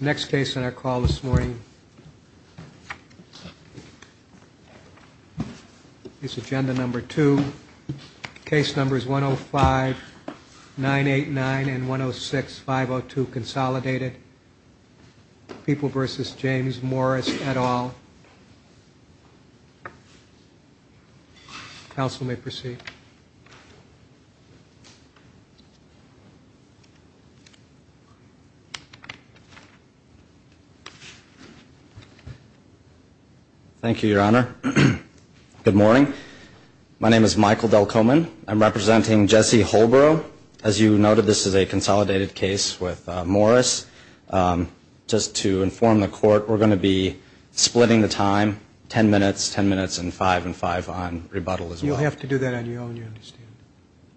Next case on our call this morning is agenda number two. Case numbers 105 989 and 106 502 consolidated. People v. James Morris et al. Council may proceed. Michael Delcomen Thank you, Your Honor. Good morning. My name is Michael Delcomen. I'm representing Jesse Holbro. As you noted, this is a consolidated case with Morris. Just to inform the court, we're going to be splitting the time ten minutes, ten minutes and five and five on rebuttal as well. You'll have to do that on your own, you understand. And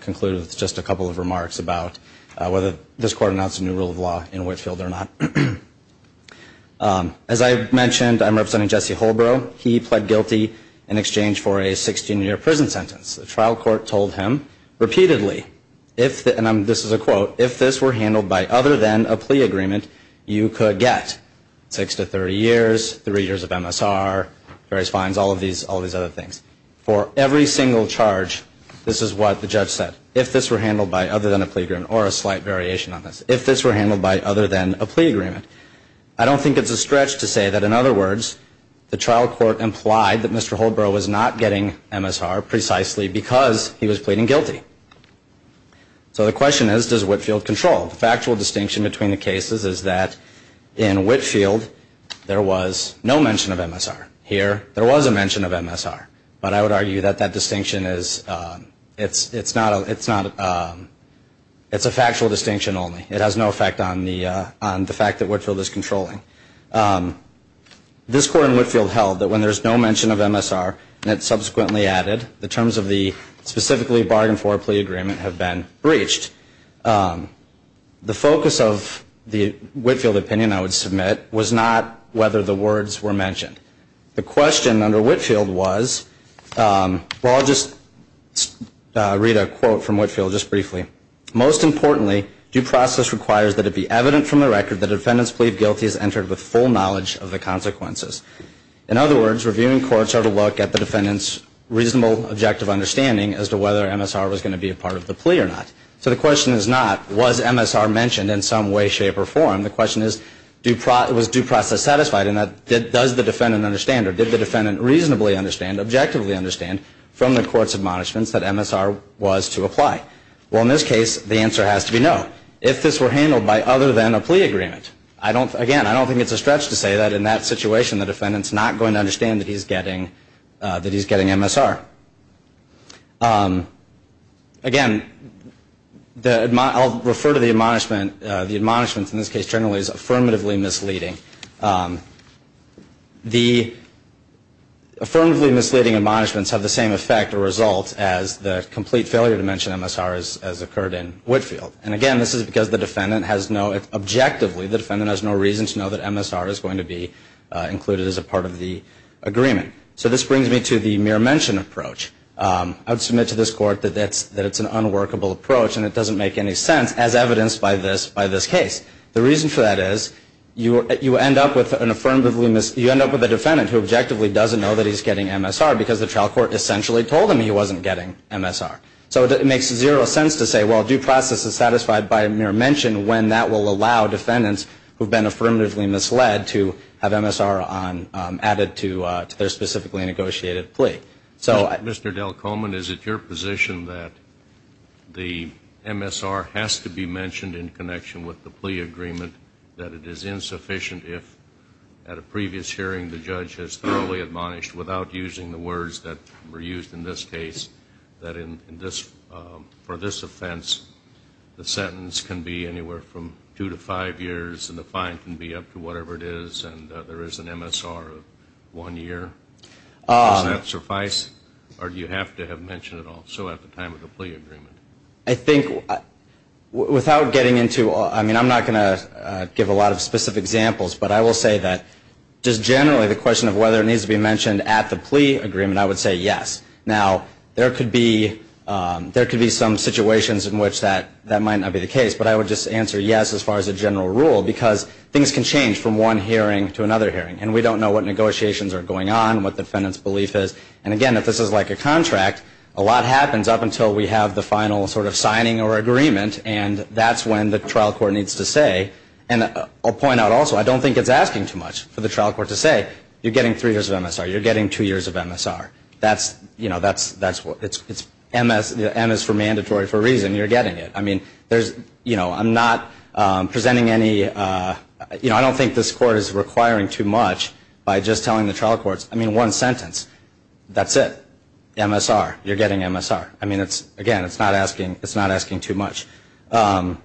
conclude with just a couple of remarks about whether this court announced a new rule of law in Whitefield or not. As I mentioned, I'm representing Jesse Holbro. He pled guilty in exchange for a 16-year prison sentence. The trial court told him repeatedly, and this is a quote, if this were handled by other than a plea agreement, you could get six to 30 years, three years of MSR, various fines, all of these other things. For every single charge, this is what the judge said. If this were handled by other than a plea agreement or a slight variation on this. If this were handled by other than a plea agreement. I don't think it's a stretch to say that, in other words, the trial court implied that Mr. Holbro was not getting MSR precisely because he was pleading guilty. So the question is, does Whitefield control? The factual distinction between the cases is that in Whitefield, there was no mention of MSR. Here, there was a mention of MSR. But I would argue that that distinction is, it's a factual distinction only. It has no effect on the fact that Whitefield is controlling. This court in Whitefield held that when there's no mention of MSR, and it subsequently added, the terms of the specifically bargained for plea agreement have been breached. The focus of the Whitefield opinion, I would submit, was not whether the words were mentioned. The question under Whitefield was, well, I'll just read a quote from Whitefield just briefly. In other words, reviewing courts are to look at the defendant's reasonable, objective understanding as to whether MSR was going to be a part of the plea or not. So the question is not, was MSR mentioned in some way, shape, or form? The question is, was due process satisfied in that, does the defendant understand, or did the defendant reasonably understand, objectively understand, from the court's admonishments that MSR was to apply? Well, in this case, the answer has to be no, if this were handled by other than a plea agreement. Again, I don't think it's a stretch to say that in that situation, the defendant's not going to understand that he's getting MSR. Again, I'll refer to the admonishments. The admonishments in this case generally is affirmatively misleading. The affirmatively misleading admonishments have the same effect or result as the complete failure to mention MSR as occurred in Whitefield. And again, this is because the defendant has no, objectively, the defendant has no reason to know that MSR is going to be included as a part of the agreement. So this brings me to the mere mention approach. I would submit to this court that it's an unworkable approach, and it doesn't make any sense, as evidenced by this case. The reason for that is you end up with an affirmatively, you end up with a defendant who objectively doesn't know that he's getting MSR, because the trial court essentially told him he wasn't getting MSR. So it makes zero sense to say, well, due process is satisfied by mere mention, when that will allow defendants who have been affirmatively misled to have MSR added to their specifically negotiated plea. Mr. Delcomen, is it your position that the MSR has to be mentioned in connection with the plea agreement, that it is insufficient if, at a previous hearing, the judge has thoroughly admonished, without using the words that were used in this case, that for this offense, the sentence can be anywhere from two to five years, and the fine can be up to whatever it is, and there is an MSR of one year? Does that suffice, or do you have to have mentioned it all, so at the time of the plea agreement? I think, without getting into, I mean, I'm not going to give a lot of specific examples, but I will say that just generally, the question of whether it needs to be mentioned at the plea agreement, I would say yes. Now, there could be some situations in which that might not be the case, but I would just answer yes, as far as a general rule, because things can change from one hearing to another hearing, and we don't know what negotiations are going on, what the defendant's belief is, and again, if this is like a contract, a lot happens up until we have the final sort of signing or agreement, and that's when the trial court needs to say, and I'll point out also, I don't think it's asking too much for the trial court to say, you're getting three years of MSR, you're getting two years of MSR. That's, you know, that's what, it's MS, M is for mandatory for a reason, you're getting it. I mean, there's, you know, I'm not presenting any, you know, I don't think this court is requiring too much by just telling the trial courts, I mean, one sentence, that's it, MSR, you're getting MSR. I mean, it's, again, it's not asking, it's not asking too much. And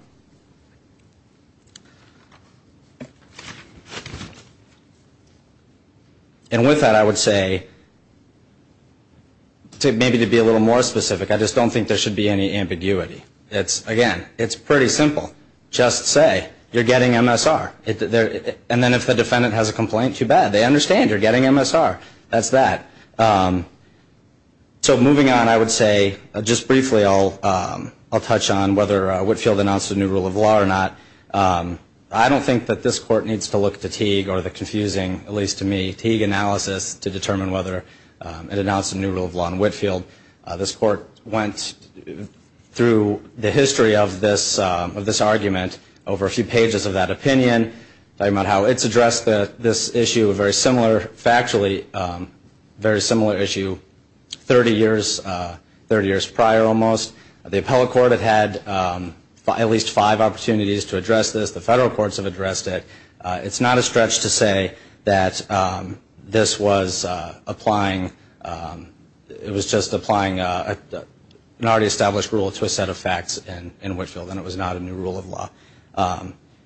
with that, I would say, maybe to be a little more specific, I just don't think there should be any ambiguity. It's, again, it's pretty simple, just say, you're getting MSR. And then if the defendant has a complaint, too bad, they understand, you're getting MSR, that's that. So moving on, I would say, just briefly, I'll touch on whether Whitfield announced a new rule of law or not. I don't think that this court needs to look to Teague or the confusing, at least to me, Teague analysis to determine whether it announced a new rule of law in Whitfield. This court went through the history of this argument over a few pages of that opinion. Talking about how it's addressed this issue, a very similar, factually, very similar issue 30 years prior almost. The appellate court had had at least five opportunities to address this. The federal courts have addressed it. It's not a stretch to say that this was applying, it was just applying an already established rule to a set of facts in Whitfield and it was not a new rule of law.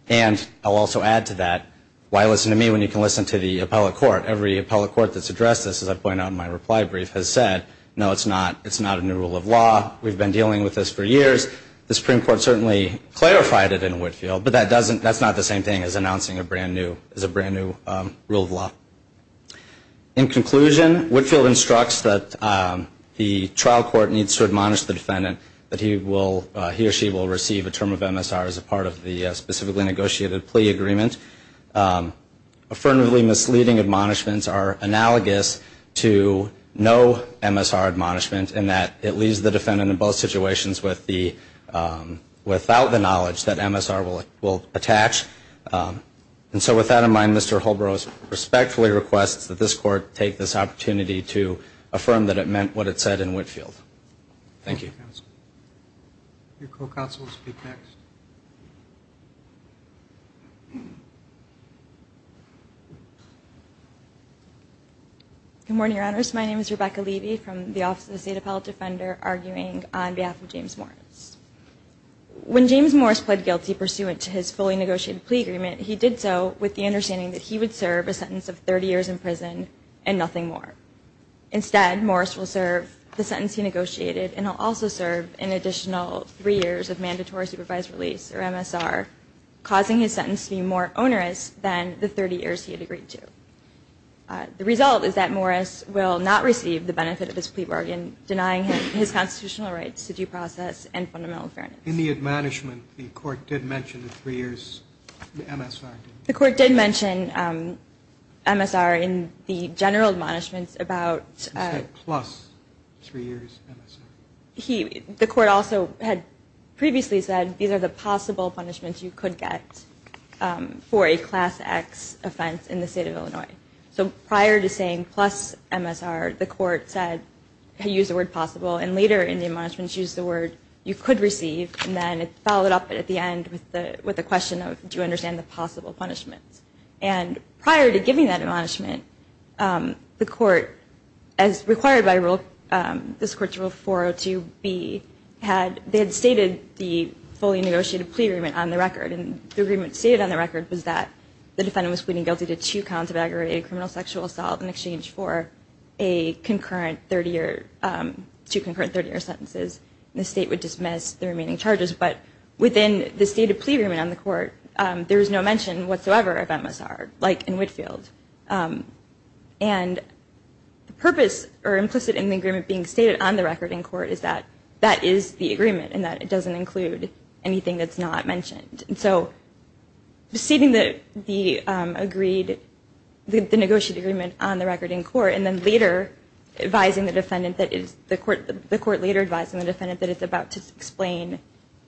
And I'll also add to that, why listen to me when you can listen to the appellate court? Every appellate court that's addressed this, as I've pointed out in my reply brief, has said, no, it's not, it's not a new rule of law. We've been dealing with this for years. The Supreme Court certainly clarified it in Whitfield, but that doesn't, that's not the same thing as announcing a brand new, as a brand new rule of law. In conclusion, Whitfield instructs that the trial court needs to admonish the defendant that he will, he or she will receive a term of MSR as a part of the specifically negotiated plea agreement. Affirmatively misleading admonishments are analogous to no MSR admonishment in that it leaves the defendant in both situations with the, without the knowledge that MSR will attach. And so with that in mind, Mr. Holbros respectfully requests that this court take this opportunity to affirm that it meant what it said in Whitfield. Thank you. Rebecca Levy Good morning, Your Honors. My name is Rebecca Levy from the Office of the State Appellate Defender, arguing on behalf of James Morris. When James Morris pled guilty pursuant to his fully negotiated plea agreement, he did so with the understanding that he would serve a sentence of 30 years in prison and nothing more. Instead, Morris will serve the sentence he negotiated, and he'll also serve an additional three years of mandatory supervised release, or MSR, causing his sentence to be more onerous than the 30 years he had agreed to. The result is that Morris will not receive the benefit of his plea bargain, denying him his constitutional rights to due process and fundamental fairness. In the admonishment, the court did mention the three years MSR, didn't it? The court did mention MSR in the general admonishments about... You said plus three years MSR. The court also had previously said these are the possible punishments you could get for a Class X offense in the state of Illinois. So prior to saying plus MSR, the court said, used the word possible, and later in the admonishments used the word you could receive. And then it followed up at the end with the question of, do you understand the possible punishments? And prior to giving that admonishment, the court, as required by Rule... They had stated the fully negotiated plea agreement on the record. And the agreement stated on the record was that the defendant was pleading guilty to two counts of aggravated criminal sexual assault in exchange for two concurrent 30-year sentences. And the state would dismiss the remaining charges. But within the stated plea agreement on the court, there is no mention whatsoever of MSR, like in Whitefield. And the purpose, or implicit in the agreement being stated on the record in court, is that that is the agreement. And that it doesn't include anything that's not mentioned. And so proceeding the agreed... The negotiated agreement on the record in court, and then later advising the defendant that it's... The court later advising the defendant that it's about to explain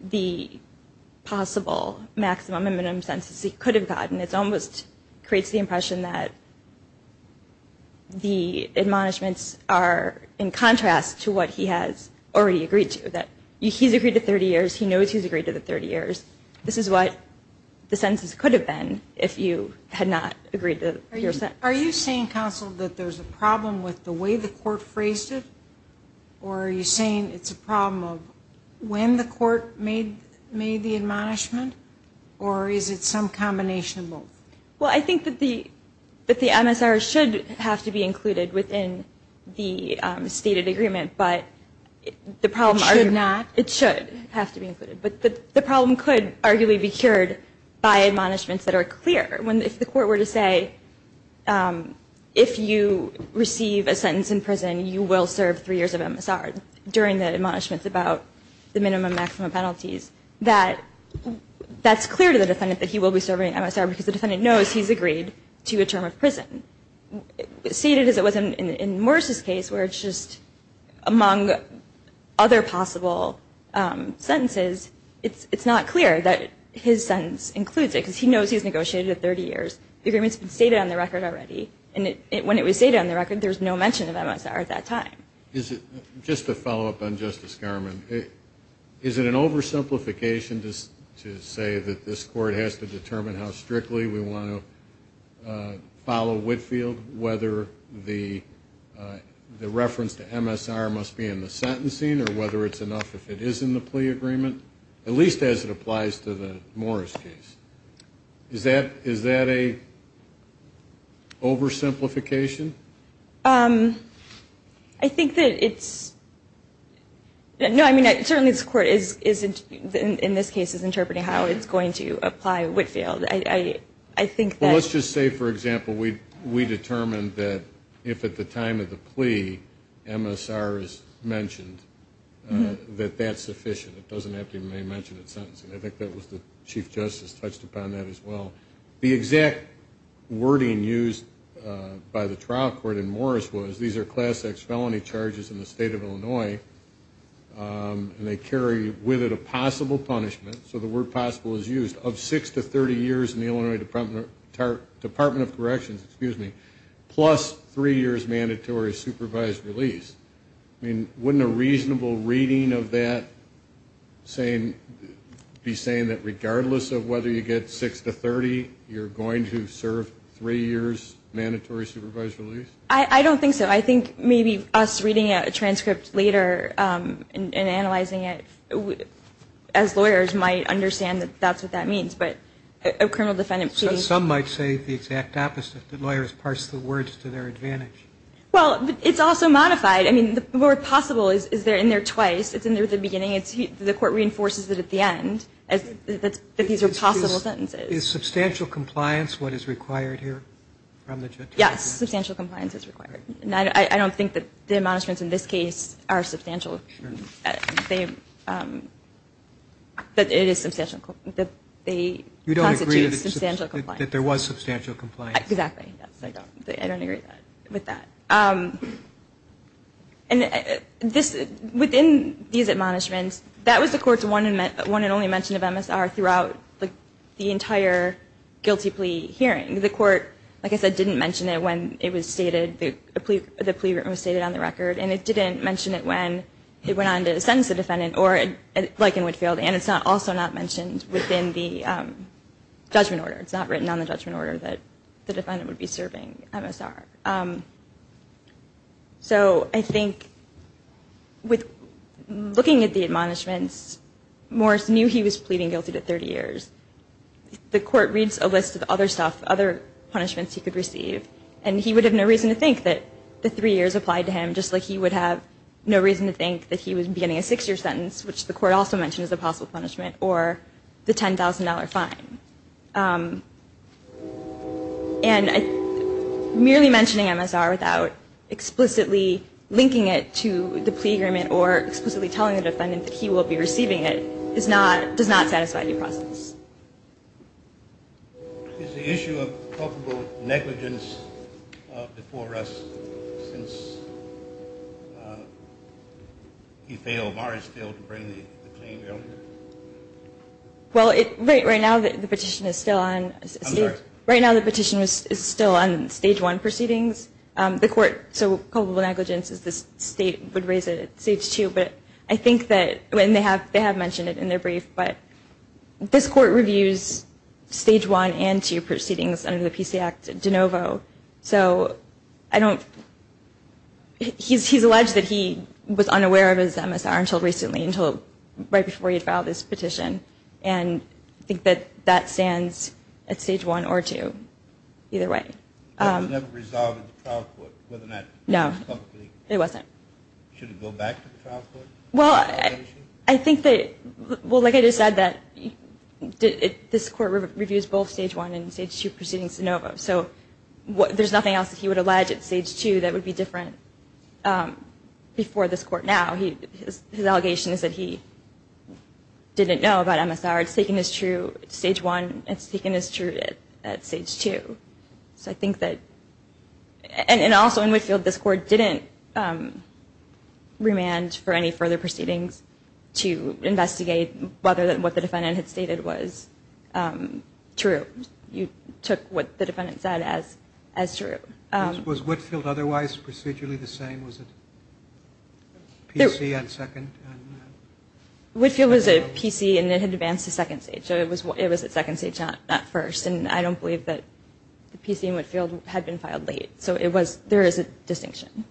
the possible maximum and minimum sentences he could have gotten. It almost creates the impression that the admonishments are in contrast to what he has already agreed to. That he's agreed to 30 years, he knows he's agreed to the 30 years. This is what the sentences could have been if you had not agreed to your sentence. Are you saying, counsel, that there's a problem with the way the court phrased it? Or are you saying it's a problem of when the court made the admonishment? Or is it some combination of both? Well, I think that the MSR should have to be included within the stated agreement, but... It should not? It should have to be included. But the problem could arguably be cured by admonishments that are clear. If the court were to say, if you receive a sentence in prison, you will serve three years of MSR during the admonishments about the minimum and maximum penalties, that's clear to the defendant that he will be serving MSR because the defendant knows he's agreed to a term of prison. It's stated as it was in Morris' case where it's just among other possible sentences, it's not clear that his sentence includes it because he knows he's negotiated a 30 years. The agreement's been stated on the record already. And when it was stated on the record, there was no mention of MSR at that time. Just to follow up on Justice Garmon, is it an oversimplification to say that this court has to determine how strictly we want to follow Whitfield, whether the reference to MSR must be in the sentencing, or whether it's enough if it is in the plea agreement, at least as it applies to the Morris case? Is that a oversimplification? I think that it's, no, I mean, certainly this court is, in this case, is interpreting how it's going to apply Whitfield. Let's just say, for example, we determined that if at the time of the plea MSR is mentioned, that that's sufficient. It doesn't have to be mentioned in sentencing. I think Chief Justice touched upon that as well. The exact wording used by the trial court in Morris was, these are Class X felony charges in the state of Illinois, and they carry with it a possible punishment, so the word possible is used, of six to 30 years in the Illinois Department of Corrections, plus three years mandatory supervised release. Wouldn't a reasonable reading of that be saying that regardless of whether you get six to 30, you're going to serve three years mandatory supervised release? I don't think so. I think maybe us reading a transcript later and analyzing it, as lawyers, might understand that that's what that means, but a criminal defendant... Some might say the exact opposite, that lawyers parse the words to their advantage. Well, it's also modified. I mean, the word possible is in there twice. It's in there at the beginning. The court reinforces it at the end, that these are possible sentences. Is substantial compliance what is required here? Yes, substantial compliance is required. I don't think that the admonishments in this case are substantial. You don't agree that there was substantial compliance? Exactly. I don't agree with that. Within these admonishments, that was the court's one and only mention of MSR throughout the entire guilty plea hearing. The court, like I said, didn't mention it when the plea written was stated on the record, and it didn't mention it when it went on to sentence the defendant, or like in Whitefield, and it's also not mentioned within the judgment order. So I think with looking at the admonishments, Morris knew he was pleading guilty to 30 years. The court reads a list of other stuff, other punishments he could receive, and he would have no reason to think that the three years applied to him, just like he would have no reason to think that he was beginning a six-year sentence, which the court also mentioned as a possible punishment, or the $10,000 fine. And merely mentioning MSR without explicitly linking it to the plea agreement or explicitly telling the defendant that he will be receiving it does not satisfy due process. Is the issue of probable negligence before us, since he failed, Morris failed to bring the claim down? Well, right now the petition is still on stage one proceedings. The court, so probable negligence is this state would raise it at stage two, but I think that, and they have mentioned it in their brief, but this court reviews stage one and two proceedings under the PC Act de novo. So I don't, he's alleged that he was unaware of his MSR until recently, until right before he had filed his petition, and I think that that stands at stage one or two, either way. That was never resolved in the trial court, whether or not publicly? No, it wasn't. Should it go back to the trial court? Well, I think that, well, like I just said, this court reviews both stage one and stage two proceedings de novo. So there's nothing else that he would allege at stage two that would be different before this court now. His allegation is that he didn't know about MSR. It's taken as true at stage one, it's taken as true at stage two. So I think that, and also in Whitfield, this court didn't remand for any further proceedings to investigate whether what the defendant had stated was true. You took what the defendant said as true. Was Whitfield otherwise procedurally the same? Was it PC on second? Whitfield was a PC and it had advanced to second stage, so it was at second stage, not first, and I don't believe that the PC in Whitfield had been filed late. So there is a distinction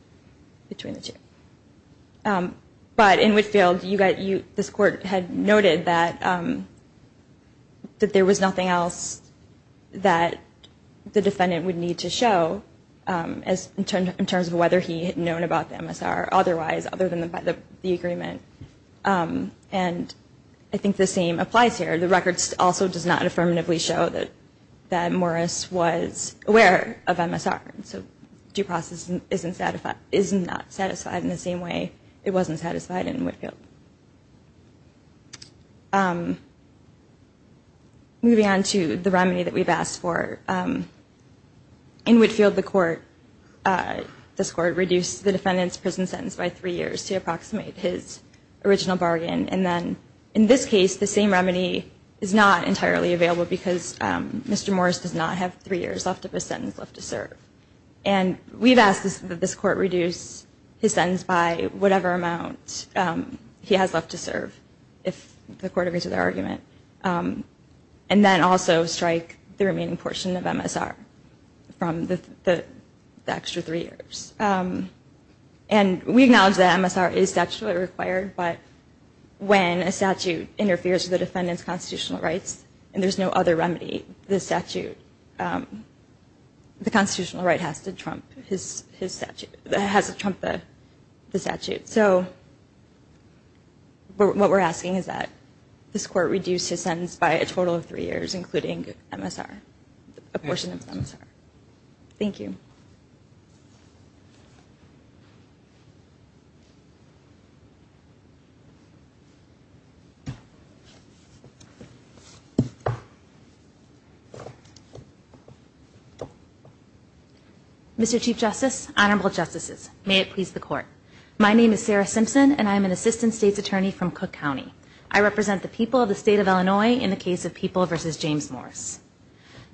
between the two. But in Whitfield, this court had noted that there was nothing else that the defendant would need to show in terms of whether he had known about the MSR otherwise, other than by the agreement. And I think the same applies here. The record also does not affirmatively show that Morris was aware of MSR. So due process is not satisfied in the same way it wasn't satisfied in Whitfield. Moving on to the remedy that we've asked for. In Whitfield, this court reduced the defendant's prison sentence by three years to approximate his original bargain. And then in this case, the same remedy is not entirely available because Mr. Morris does not have three years left of his sentence left to serve. And we've asked that this court reduce his sentence by whatever amount he has left to serve, if the court agrees with our argument. And then also strike the remaining portion of MSR from the extra three years. And we acknowledge that MSR is statutorily required, but when a statute interferes with the defendant's constitutional rights and there's no other remedy, the statute, the constitutional right has to trump the statute. So what we're asking is that this court reduce his sentence by a total of three years, including MSR, a portion of MSR. Thank you. Mr. Chief Justice, Honorable Justices, may it please the Court. My name is Sarah Simpson and I am an Assistant State's Attorney from Cook County. I represent the people of the State of Illinois in the case of People v. James Morris.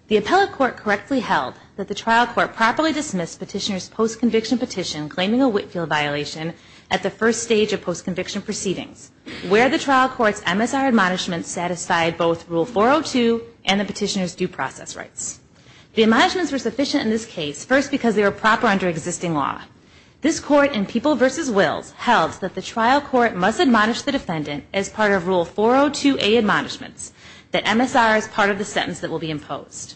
The appellate court correctly held that the trial court properly dismissed petitioner's post-conviction petition claiming a Whitefield violation at the first stage of post-conviction proceedings, where the trial court's MSR admonishments satisfied both Rule 402 and the petitioner's due process rights. The admonishments were sufficient in this case, first because they were proper under existing law. This court in People v. Wills held that the trial court must admonish the defendant as part of Rule 402A admonishments, that MSR is part of the sentence that will be imposed.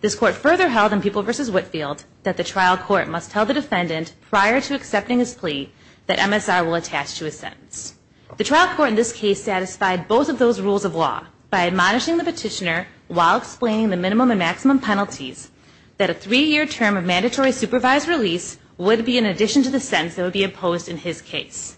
This court further held in People v. Whitefield that the trial court must tell the defendant prior to accepting his plea that MSR will attach to his sentence. The trial court in this case satisfied both of those rules of law by admonishing the petitioner while explaining the minimum and maximum penalties that a three-year term of mandatory supervised release would be in addition to the sentence that would be imposed in his case.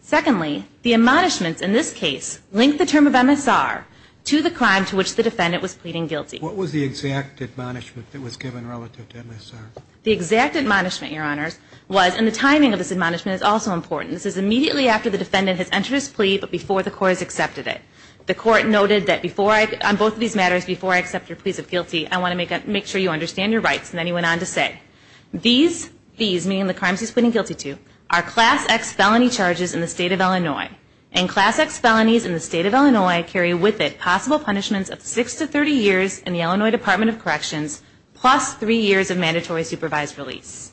Secondly, the admonishments in this case link the term of MSR to the crime to which the defendant was pleading guilty. What was the exact admonishment that was given relative to MSR? The exact admonishment, Your Honors, was, and the timing of this admonishment is also important, this is immediately after the defendant has entered his plea but before the court has accepted it. The court noted that on both of these matters, before I accept your plea of guilty, I want to make sure you understand your rights, and then he went on to say, these, meaning the crimes he's pleading guilty to, are Class X felony charges in the state of Illinois, and Class X felonies in the state of Illinois carry with it possible punishments of six to 30 years in the Illinois Department of Corrections plus three years of mandatory supervised release.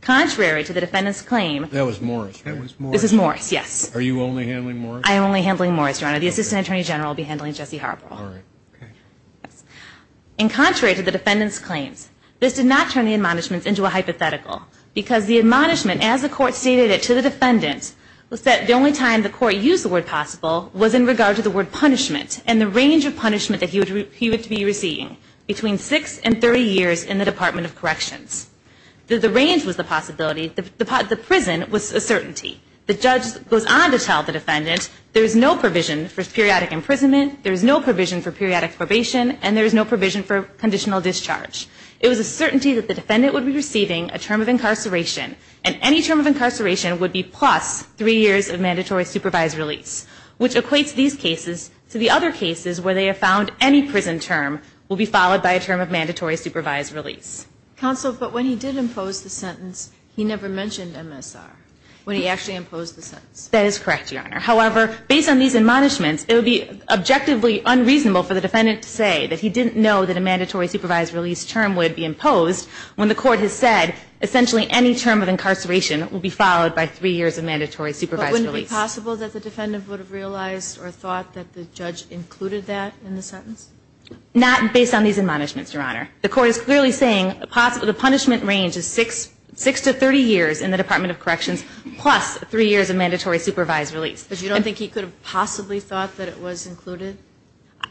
Contrary to the defendant's claim, That was Morris, right? This is Morris, yes. Are you only handling Morris? I am only handling Morris, Your Honor. The Assistant Attorney General will be handling Jesse Harborough. All right, okay. And contrary to the defendant's claims, this did not turn the admonishments into a hypothetical because the admonishment, as the court stated it to the defendant, was that the only time the court used the word possible was in regard to the word punishment and the range of punishment that he would be receiving between six and 30 years in the Department of Corrections. The range was the possibility, the prison was a certainty. The judge goes on to tell the defendant there is no provision for periodic imprisonment, there is no provision for periodic probation, and there is no provision for conditional discharge. It was a certainty that the defendant would be receiving a term of incarceration, and any term of incarceration would be plus three years of mandatory supervised release, which equates these cases to the other cases where they have found any prison term will be followed by a term of mandatory supervised release. Counsel, but when he did impose the sentence, he never mentioned MSR. When he actually imposed the sentence. That is correct, Your Honor. However, based on these admonishments, it would be objectively unreasonable for the defendant to say that he didn't know that a mandatory supervised release term would be imposed when the court has said essentially any term of incarceration will be followed by three years of mandatory supervised release. But wouldn't it be possible that the defendant would have realized or thought that the judge included that in the sentence? Not based on these admonishments, Your Honor. The court is clearly saying the punishment range is six to 30 years in the Department of Corrections plus three years of mandatory supervised release. But you don't think he could have possibly thought that it was included?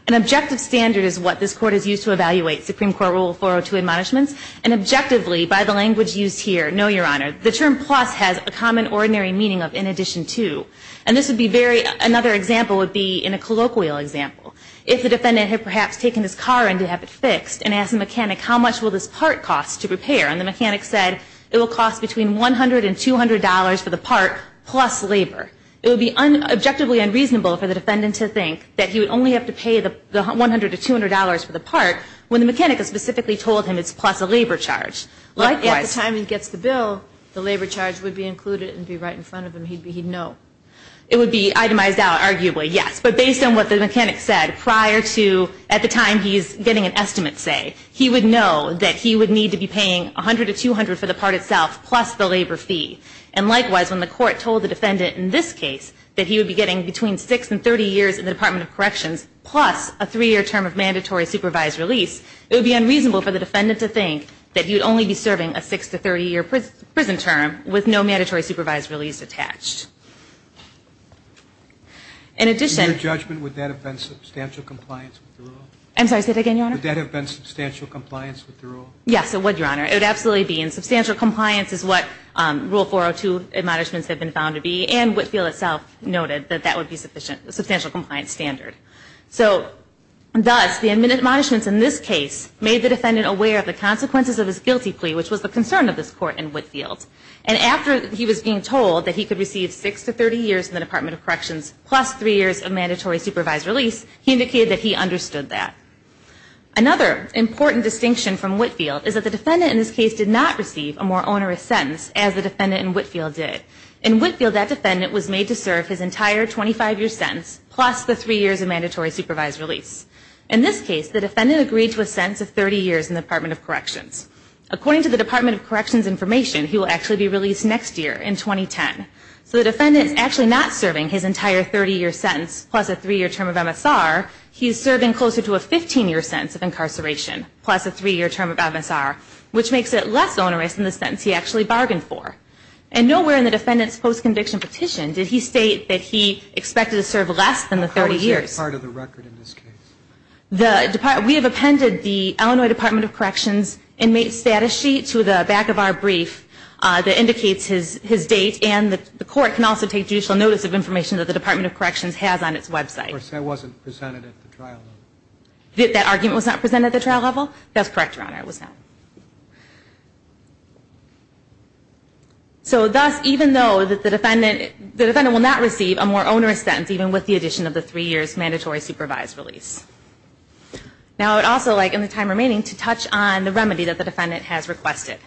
An objective standard is what this Court has used to evaluate Supreme Court Rule 402 admonishments. And objectively, by the language used here, no, Your Honor, the term plus has a common ordinary meaning of in addition to. And this would be very – another example would be in a colloquial example. If the defendant had perhaps taken his car in to have it fixed and asked the mechanic how much will this part cost to repair, and the mechanic said it will cost between $100 and $200 for the part plus labor, it would be objectively unreasonable for the defendant to think that he would only have to pay the $100 to $200 for the part when the mechanic has specifically told him it's plus a labor charge. Likewise. At the time he gets the bill, the labor charge would be included and be right in front of him. He'd know. It would be itemized out, arguably, yes. But based on what the mechanic said prior to – at the time he's getting an estimate say, he would know that he would need to be paying $100 to $200 for the part itself plus the labor fee. And likewise, when the Court told the defendant in this case that he would be getting between 6 and 30 years in the Department of Corrections plus a 3-year term of mandatory supervised release, it would be unreasonable for the defendant to think that he would only be serving a 6 to 30-year prison term with no mandatory supervised release attached. In addition – In your judgment, would that have been substantial compliance with the rule? I'm sorry, say that again, Your Honor. Would that have been substantial compliance with the rule? Yes, it would, Your Honor. It would absolutely be. And substantial compliance is what Rule 402 admonishments have been found to be. And Whitfield itself noted that that would be sufficient – a substantial compliance standard. So thus, the admonishments in this case made the defendant aware of the consequences of his guilty plea, which was the concern of this Court in Whitfield. And after he was being told that he could receive 6 to 30 years in the Department of Corrections plus 3 years of mandatory supervised release, he indicated that he understood that. Another important distinction from Whitfield is that the defendant in this case did not receive a more onerous sentence as the defendant in Whitfield did. In Whitfield, that defendant was made to serve his entire 25-year sentence plus the 3 years of mandatory supervised release. In this case, the defendant agreed to a sentence of 30 years in the Department of Corrections. According to the Department of Corrections information, he will actually be released next year in 2010. So the defendant is actually not serving his entire 30-year sentence plus a 3-year term of MSR. He is serving closer to a 15-year sentence of incarceration plus a 3-year term of MSR, which makes it less onerous than the sentence he actually bargained for. And nowhere in the defendant's post-conviction petition did he state that he expected to serve less than the 30 years. What part of the record in this case? We have appended the Illinois Department of Corrections inmate status sheet to the back of our brief that indicates his date, and the court can also take judicial notice of information that the Department of Corrections has on its website. Of course, that wasn't presented at the trial level. That argument was not presented at the trial level? That's correct, Your Honor, it was not. So thus, even though the defendant will not receive a more onerous sentence even with the addition of the 3 years mandatory supervised release. Now I would also like in the time remaining to touch on the remedy that the defendant has requested.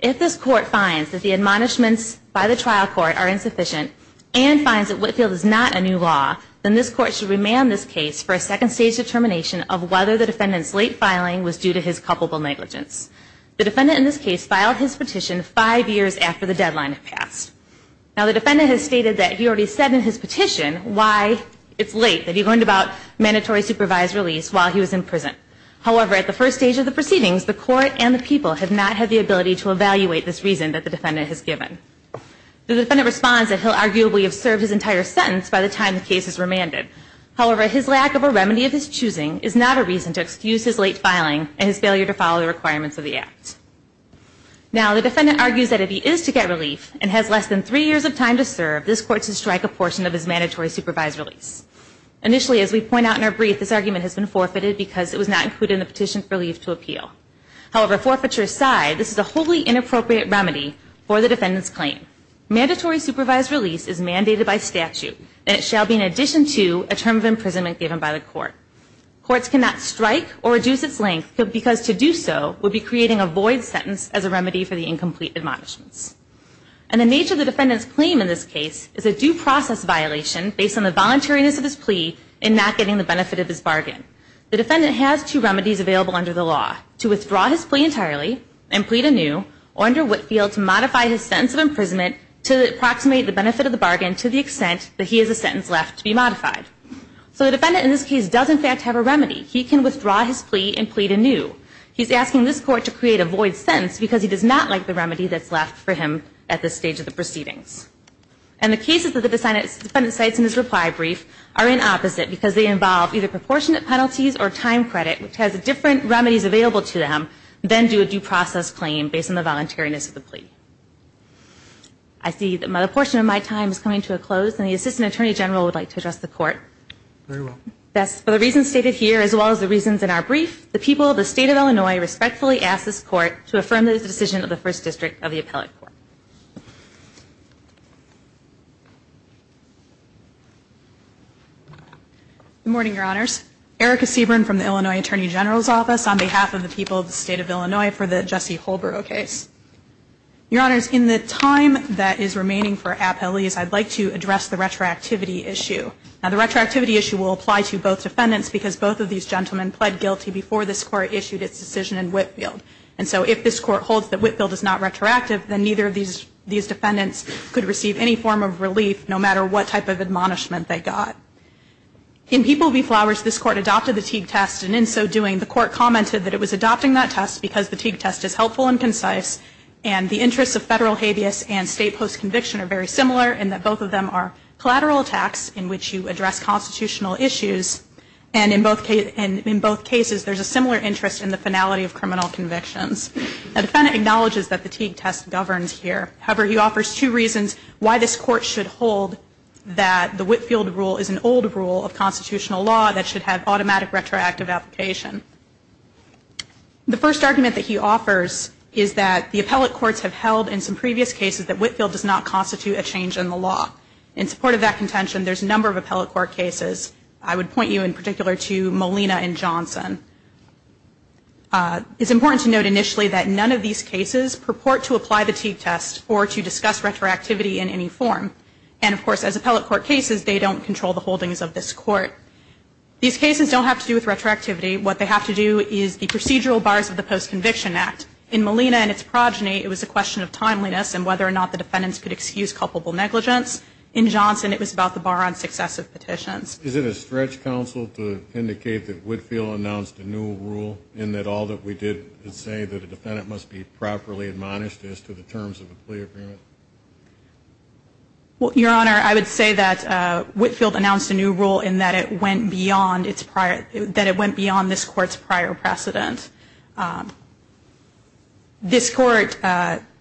If this court finds that the admonishments by the trial court are insufficient and finds that Whitefield is not a new law, then this court should remand this case for a second stage determination of whether the defendant's late filing was due to his culpable negligence. The defendant in this case filed his petition 5 years after the deadline had passed. Now the defendant has stated that he already said in his petition why it's late, that he learned about mandatory supervised release while he was in prison. However, at the first stage of the proceedings, the court and the people have not had the ability to evaluate this reason that the defendant has given. The defendant responds that he'll arguably have served his entire sentence by the time the case is remanded. However, his lack of a remedy of his choosing is not a reason to excuse his late filing and his failure to follow the requirements of the act. Now the defendant argues that if he is to get relief and has less than 3 years of time to serve, this court should strike a portion of his mandatory supervised release. Initially, as we point out in our brief, this argument has been forfeited because it was not included in the petition for relief to appeal. However, forfeiture aside, this is a wholly inappropriate remedy for the defendant's claim. Mandatory supervised release is mandated by statute, and it shall be in addition to a term of imprisonment given by the court. Courts cannot strike or reduce its length because to do so would be creating a void sentence as a remedy for the incomplete admonishments. And the nature of the defendant's claim in this case is a due process violation based on the voluntariness of his plea in not getting the benefit of his bargain. The defendant has two remedies available under the law, to withdraw his plea entirely and plead anew, or under Whitfield, to modify his sentence of imprisonment to approximate the benefit of the bargain to the extent that he has a sentence left to be modified. So the defendant in this case does in fact have a remedy. He can withdraw his plea and plead anew. He's asking this Court to create a void sentence because he does not like the remedy that's left for him at this stage of the proceedings. And the cases that the defendant cites in his reply brief are in opposite because they involve either proportionate penalties or time credit, which has different remedies available to them, then do a due process claim based on the voluntariness of the plea. I see that a portion of my time is coming to a close, and the Assistant Attorney General would like to address the Court. Very well. For the reasons stated here, as well as the reasons in our brief, the people of the State of Illinois respectfully ask this Court to affirm the decision of the First District of the Appellate Court. Good morning, Your Honors. Erica Seaborn from the Illinois Attorney General's Office on behalf of the people of the State of Illinois for the Jesse Holbrook case. Your Honors, in the time that is remaining for appellees, I'd like to address the retroactivity issue. Now, the retroactivity issue will apply to both defendants because both of these gentlemen pled guilty before this Court issued its decision in Whitfield. And so if this Court holds that Whitfield is not retroactive, then neither of these defendants could receive any form of relief, no matter what type of admonishment they got. In People v. Flowers, this Court adopted the Teague test, and in so doing, the Court commented that it was adopting that test because the Teague test is helpful and concise, and the interests of federal habeas and state post-conviction are very similar, and that both of them are collateral attacks in which you address constitutional issues, and in both cases, there's a similar interest in the finality of criminal convictions. A defendant acknowledges that the Teague test governs here. However, he offers two reasons why this Court should hold that the Whitfield rule is an old rule of constitutional law that should have automatic retroactive application. The first argument that he offers is that the appellate courts have held in some previous cases that Whitfield does not constitute a change in the law. In support of that contention, there's a number of appellate court cases. I would point you in particular to Molina and Johnson. It's important to note initially that none of these cases purport to apply the Teague test or to discuss retroactivity in any form. And, of course, as appellate court cases, they don't control the holdings of this Court. These cases don't have to do with retroactivity. What they have to do is the procedural bars of the Post-Conviction Act. In Molina and its progeny, it was a question of timeliness and whether or not the defendants could excuse culpable negligence. In Johnson, it was about the bar on successive petitions. Is it a stretch, counsel, to indicate that Whitfield announced a new rule in that all that we did say that a defendant must be properly admonished as to the terms of the plea agreement? Well, Your Honor, I would say that Whitfield announced a new rule in that it went beyond this Court's prior precedent. This Court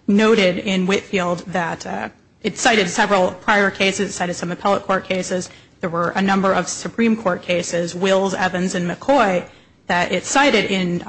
noted in Whitfield that it cited several prior cases. It cited some appellate court cases. There were a number of Supreme Court cases, Wills, Evans, and McCoy, that it cited in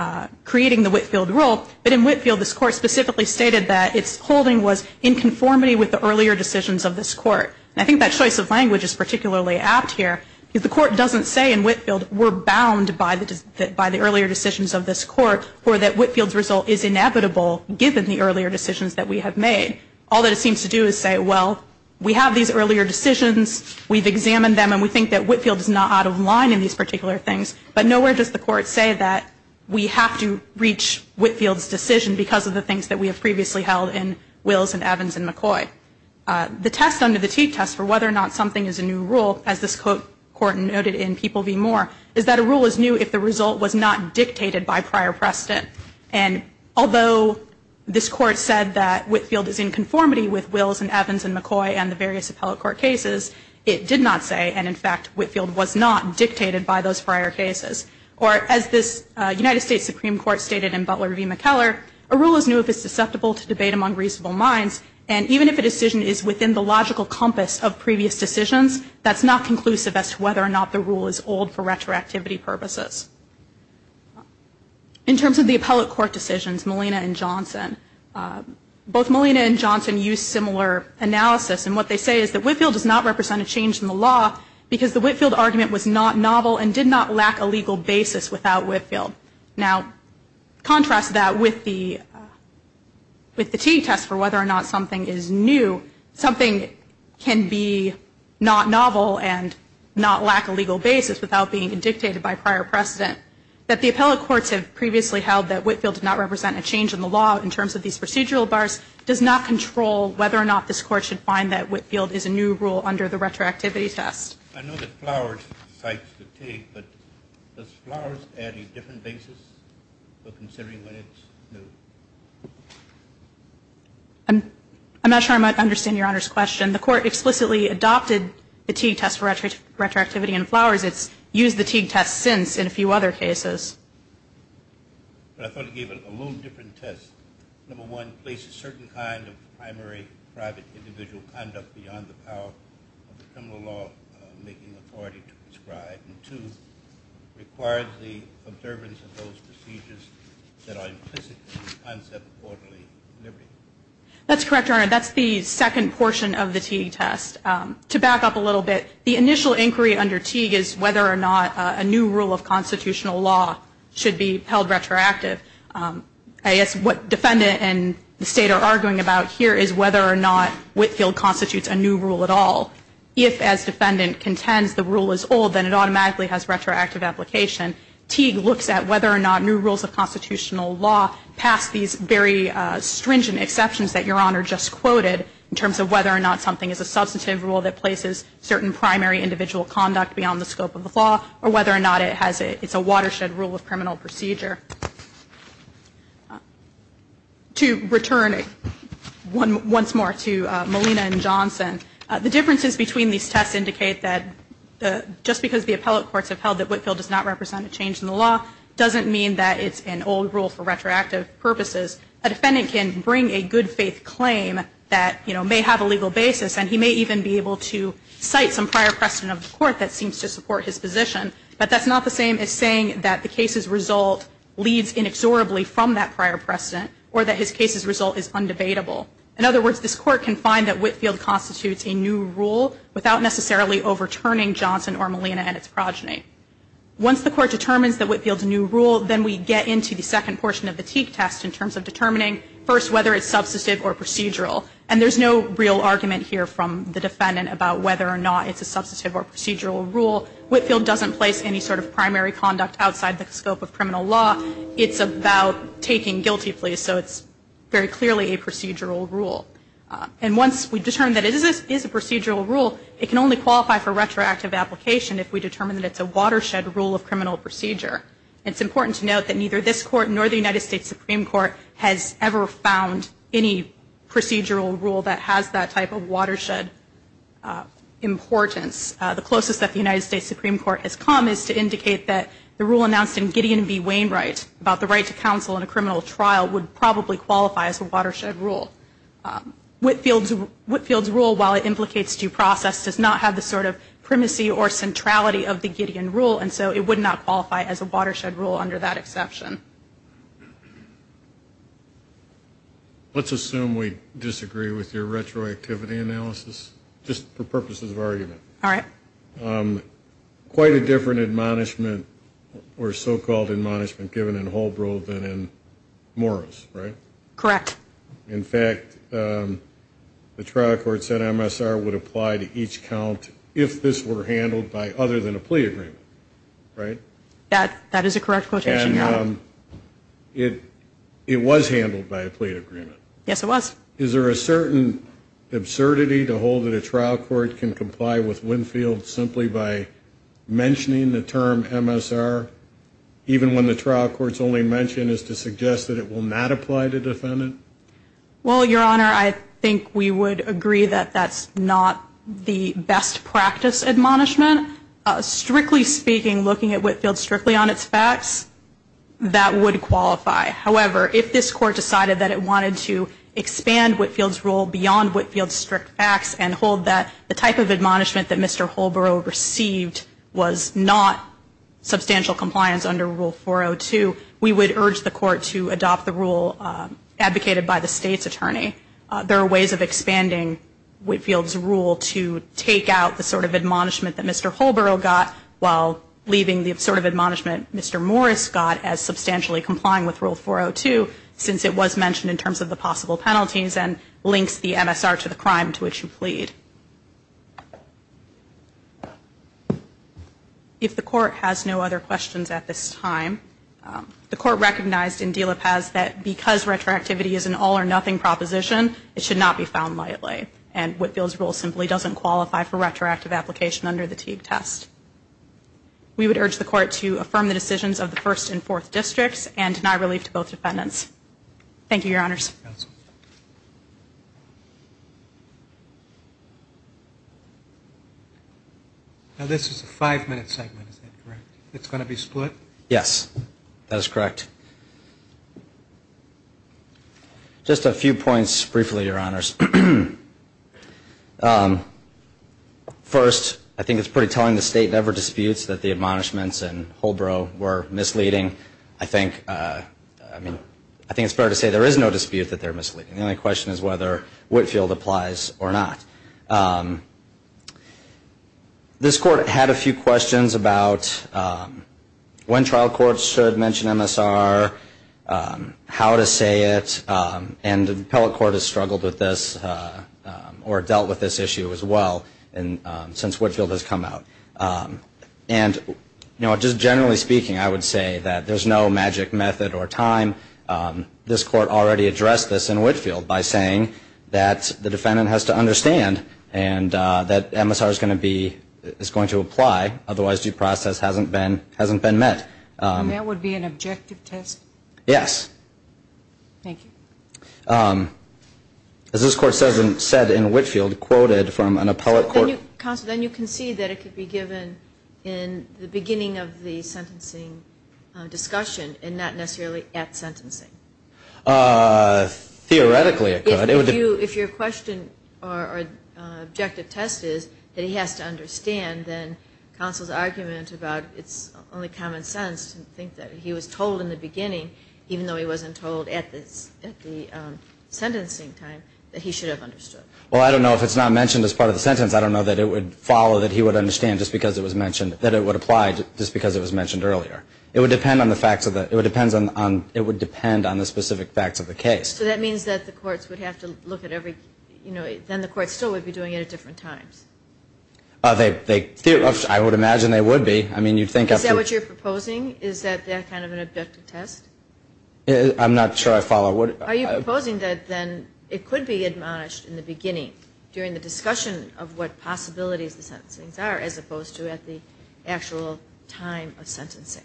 creating the Whitfield rule. But in Whitfield, this Court specifically stated that its holding was in conformity with the earlier decisions of this Court. And I think that choice of language is particularly apt here because the Court doesn't say in Whitfield we're bound by the earlier decisions of this Court or that Whitfield's result is inevitable given the earlier decisions that we have made. All that it seems to do is say, well, we have these earlier decisions. We've examined them. And we think that Whitfield is not out of line in these particular things. But nowhere does the Court say that we have to reach Whitfield's decision because of the things that we have previously held in Wills and Evans and McCoy. The test under the Teague test for whether or not something is a new rule, as this Court noted in People v. Moore, is that a rule is new if the result was not dictated by prior precedent. And although this Court said that Whitfield is in conformity with Wills and Evans and McCoy and the various appellate court cases, it did not say, and in fact Whitfield was not dictated by those prior cases. Or as this United States Supreme Court stated in Butler v. McKellar, a rule is new if it's susceptible to debate among reasonable minds. And even if a decision is within the logical compass of previous decisions, that's not conclusive as to whether or not the rule is old for retroactivity purposes. In terms of the appellate court decisions, Molina and Johnson, both Molina and Johnson use similar analysis. And what they say is that Whitfield does not represent a change in the law because the Whitfield argument was not novel and did not lack a legal basis without Whitfield. Now, contrast that with the Teague test for whether or not something is new, something can be not novel and not lack a legal basis without being dictated by prior precedent. That the appellate courts have previously held that Whitfield did not represent a change in the law in terms of these procedural bars does not control whether or not this Court should find that Whitfield is a new rule under the retroactivity test. I know that Flowers cites the Teague, but does Flowers add a different basis for considering when it's new? I'm not sure I might understand Your Honor's question. The Court explicitly adopted the Teague test for retroactivity in Flowers. It's used the Teague test since in a few other cases. But I thought it gave it a little different test. Number one, places certain kind of primary private individual conduct beyond the power of the criminal law making authority to prescribe. And two, requires the observance of those procedures that are implicit in the concept of orderly delivery. That's correct, Your Honor. That's the second portion of the Teague test. To back up a little bit, the initial inquiry under Teague is whether or not a new rule of constitutional law should be held retroactive. I guess what Defendant and the State are arguing about here is whether or not Whitfield constitutes a new rule at all. If, as Defendant contends, the rule is old, then it automatically has retroactive application. Teague looks at whether or not new rules of constitutional law pass these very stringent exceptions that Your Honor just quoted in terms of whether or not something is a substantive rule that places certain primary individual conduct beyond the scope of the law or whether or not it's a watershed rule of criminal procedure. To return once more to Molina and Johnson, the differences between these tests indicate that just because the appellate courts have held that Whitfield does not represent a change in the law doesn't mean that it's an old rule for retroactive purposes. A Defendant can bring a good faith claim that may have a legal basis and he may even be able to cite some prior precedent of the court that seems to support his position, but that's not the same as saying that the case's result leads inexorably from that prior precedent or that his case's result is undebatable. In other words, this Court can find that Whitfield constitutes a new rule without necessarily overturning Johnson or Molina and its progeny. Once the Court determines that Whitfield's a new rule, then we get into the second portion of the Teague test in terms of determining first whether it's substantive or procedural. And there's no real argument here from the Defendant about whether or not it's a substantive or procedural rule. Whitfield doesn't place any sort of primary conduct outside the scope of criminal law. It's about taking guilty pleas, so it's very clearly a procedural rule. And once we determine that it is a procedural rule, it can only qualify for retroactive application if we determine that it's a watershed rule of criminal procedure. It's important to note that neither this Court nor the United States Supreme Court has ever found any procedural rule that has that type of watershed importance. The closest that the United States Supreme Court has come is to indicate that the rule announced in Gideon v. Wainwright about the right to counsel in a criminal trial would probably qualify as a watershed rule. Whitfield's rule, while it implicates due process, does not have the sort of primacy or centrality of the Gideon rule, and so it would not qualify as a watershed rule under that exception. Let's assume we disagree with your retroactivity analysis, just for purposes of argument. All right. Quite a different admonishment or so-called admonishment given in Holbrove than in Morris, right? Correct. In fact, the trial court said MSR would apply to each count if this were handled by other than a plea agreement, right? That is a correct quotation, Your Honor. And it was handled by a plea agreement. Yes, it was. Is there a certain absurdity to hold that a trial court can comply with Winfield simply by mentioning the term MSR, even when the trial court's only mention is to suggest that it will not apply to defendant? Well, Your Honor, I think we would agree that that's not the best practice admonishment. Strictly speaking, looking at Whitfield strictly on its facts, that would qualify. However, if this court decided that it wanted to expand Whitfield's rule beyond Whitfield's strict facts and hold that the type of admonishment that Mr. Holbrove received was not substantial compliance under Rule 402, we would urge the court to adopt the rule advocated by the State's attorney. There are ways of expanding Whitfield's rule to take out the sort of admonishment that Mr. Holbrove got while leaving the sort of admonishment Mr. Morris got as substantially complying with Rule 402 since it was mentioned in terms of the possible penalties and links the MSR to the crime to which you plead. If the court has no other questions at this time, the court recognized in De La Paz that because retroactivity is an all or nothing proposition, it should not be found lightly. And Whitfield's rule simply doesn't qualify for retroactive application under the Teague test. We would urge the court to affirm the decisions of the first and fourth districts and deny relief to both defendants. Thank you, Your Honors. Now this is a five-minute segment, is that correct? It's going to be split? Yes, that is correct. Just a few points briefly, Your Honors. First, I think it's pretty telling the State never disputes that the admonishments in Holbrove were misleading. I think it's fair to say there is no dispute. The only question is whether Whitfield applies or not. This court had a few questions about when trial courts should mention MSR, how to say it, and the appellate court has struggled with this or dealt with this issue as well since Whitfield has come out. And just generally speaking, I would say that there's no magic method or time. This court already addressed this in Whitfield by saying that the defendant has to understand and that MSR is going to apply, otherwise due process hasn't been met. And that would be an objective test? Yes. Thank you. As this court said in Whitfield, quoted from an appellate court. Counsel, then you can see that it could be given in the beginning of the sentencing discussion and not necessarily at sentencing. Theoretically, it could. If your question or objective test is that he has to understand, then counsel's argument about it's only common sense to think that he was told in the beginning, even though he wasn't told at the sentencing time, that he should have understood. Well, I don't know if it's not mentioned as part of the sentence. I don't know that it would follow that he would understand just because it was mentioned, that it would apply just because it was mentioned earlier. It would depend on the facts of the case. So that means that the courts would have to look at every, then the courts still would be doing it at different times. I would imagine they would be. Is that what you're proposing? Is that kind of an objective test? I'm not sure I follow. Are you proposing that then it could be admonished in the beginning during the discussion of what possibilities the sentencings are as opposed to at the actual time of sentencing?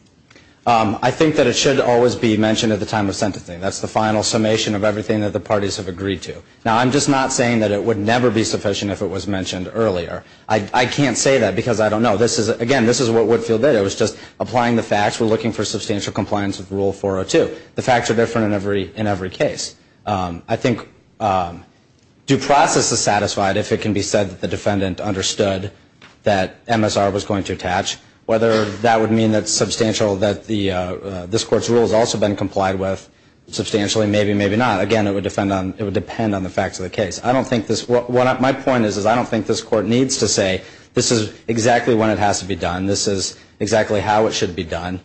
I think that it should always be mentioned at the time of sentencing. That's the final summation of everything that the parties have agreed to. Now, I'm just not saying that it would never be sufficient if it was mentioned earlier. I can't say that because I don't know. Again, this is what Woodfield did. It was just applying the facts. We're looking for substantial compliance with Rule 402. The facts are different in every case. I think due process is satisfied if it can be said that the defendant understood that MSR was going to attach. Whether that would mean that substantial that this court's rule has also been complied with substantially, maybe, maybe not. Again, it would depend on the facts of the case. My point is I don't think this court needs to say this is exactly when it has to be done, this is exactly how it should be done.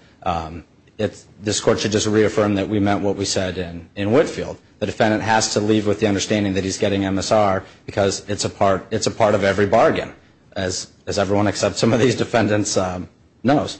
This court should just reaffirm that we meant what we said in Woodfield. The defendant has to leave with the understanding that he's getting MSR because it's a part of every bargain, as everyone except some of these defendants knows.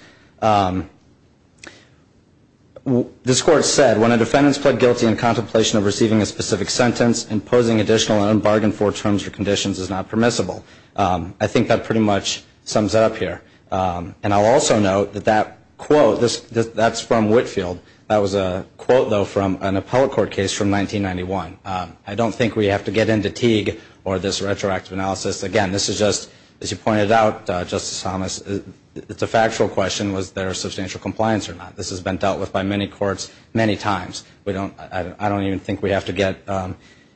This court said, when a defendant is pled guilty in contemplation of receiving a specific sentence, imposing additional unbargained four terms or conditions is not permissible. I think that pretty much sums it up here. And I'll also note that that quote, that's from Woodfield. That was a quote, though, from an appellate court case from 1991. I don't think we have to get into Teague or this retroactive analysis. Again, this is just, as you pointed out, Justice Thomas, it's a factual question, was there substantial compliance or not. This has been dealt with by many courts many times. I don't even think we have to get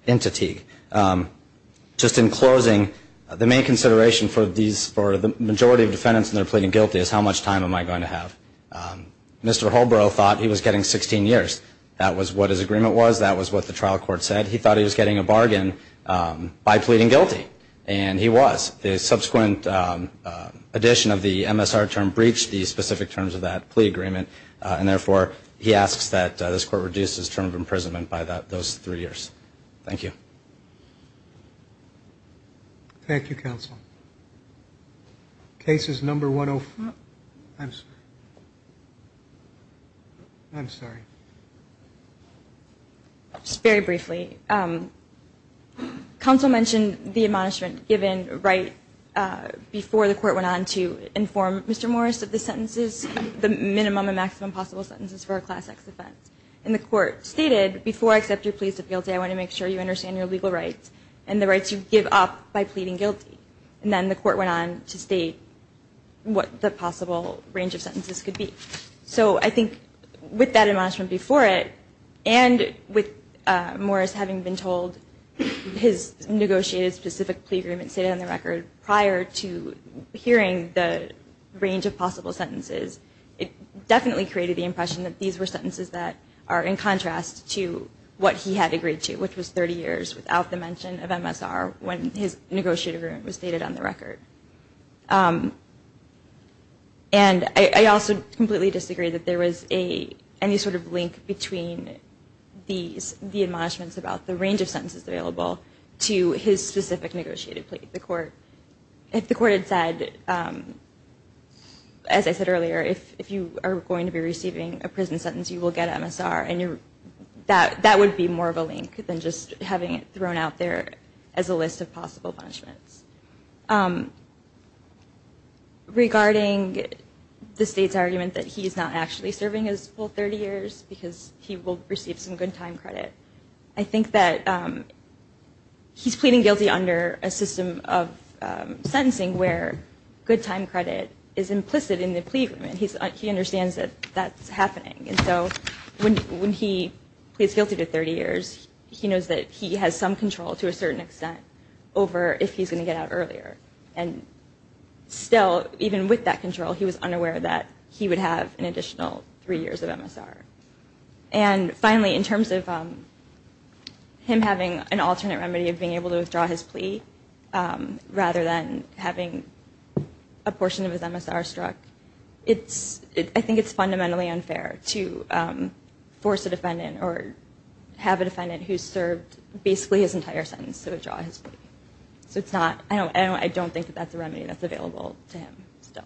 into Teague. Just in closing, the main consideration for the majority of defendants when they're pleading guilty is how much time am I going to have. Mr. Holbro thought he was getting 16 years. That was what his agreement was. That was what the trial court said. He thought he was getting a bargain by pleading guilty, and he was. The subsequent addition of the MSR term breached the specific terms of that plea agreement, and therefore he asks that this court reduce his term of imprisonment by those three years. Thank you. Thank you, counsel. Case is number 104. I'm sorry. I'm sorry. Just very briefly. Counsel mentioned the admonishment given right before the court went on to inform Mr. Morris of the sentences, the minimum and maximum possible sentences for a Class X offense. And the court stated, before I accept your pleas of guilty, I want to make sure you understand your legal rights and the rights you give up by pleading guilty. And then the court went on to state what the possible range of sentences could be. So I think with that admonishment before it and with Morris having been told his negotiated specific plea agreement stated on the record prior to hearing the range of possible sentences, it definitely created the impression that these were sentences that are in contrast to what he had agreed to, which was 30 years without the mention of MSR when his negotiated agreement was stated on the record. And I also completely disagree that there was any sort of link between these, the admonishments about the range of sentences available to his specific negotiated plea to the court. If the court had said, as I said earlier, if you are going to be receiving a prison sentence, you will get MSR, that would be more of a link than just having it thrown out there as a list of possible punishments. Regarding the state's argument that he is not actually serving his full 30 years because he will receive some good time credit, I think that he's pleading guilty under a system of sentencing where good time credit is implicit in the plea agreement. He understands that that's happening. And so when he pleads guilty to 30 years, he knows that he has some control to a certain extent over if he's going to get out earlier. And still, even with that control, he was unaware that he would have an additional three years of MSR. And finally, in terms of him having an alternate remedy of being able to withdraw his plea rather than having a portion of his MSR struck, I think it's fundamentally unfair to force a defendant or have a defendant who served basically his entire sentence to withdraw his plea. So I don't think that that's a remedy that's available to him still.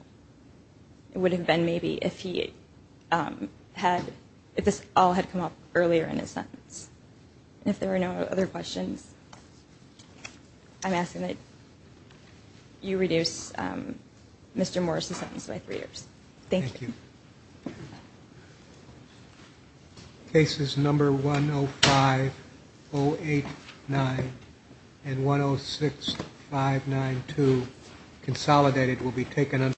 It would have been maybe if he had, if this all had come up earlier in his sentence. And if there are no other questions, I'm asking that you reduce Mr. Morris's sentence by three years. Thank you. Thank you. Cases number 105, 089, and 106, 592. Consolidated will be taken.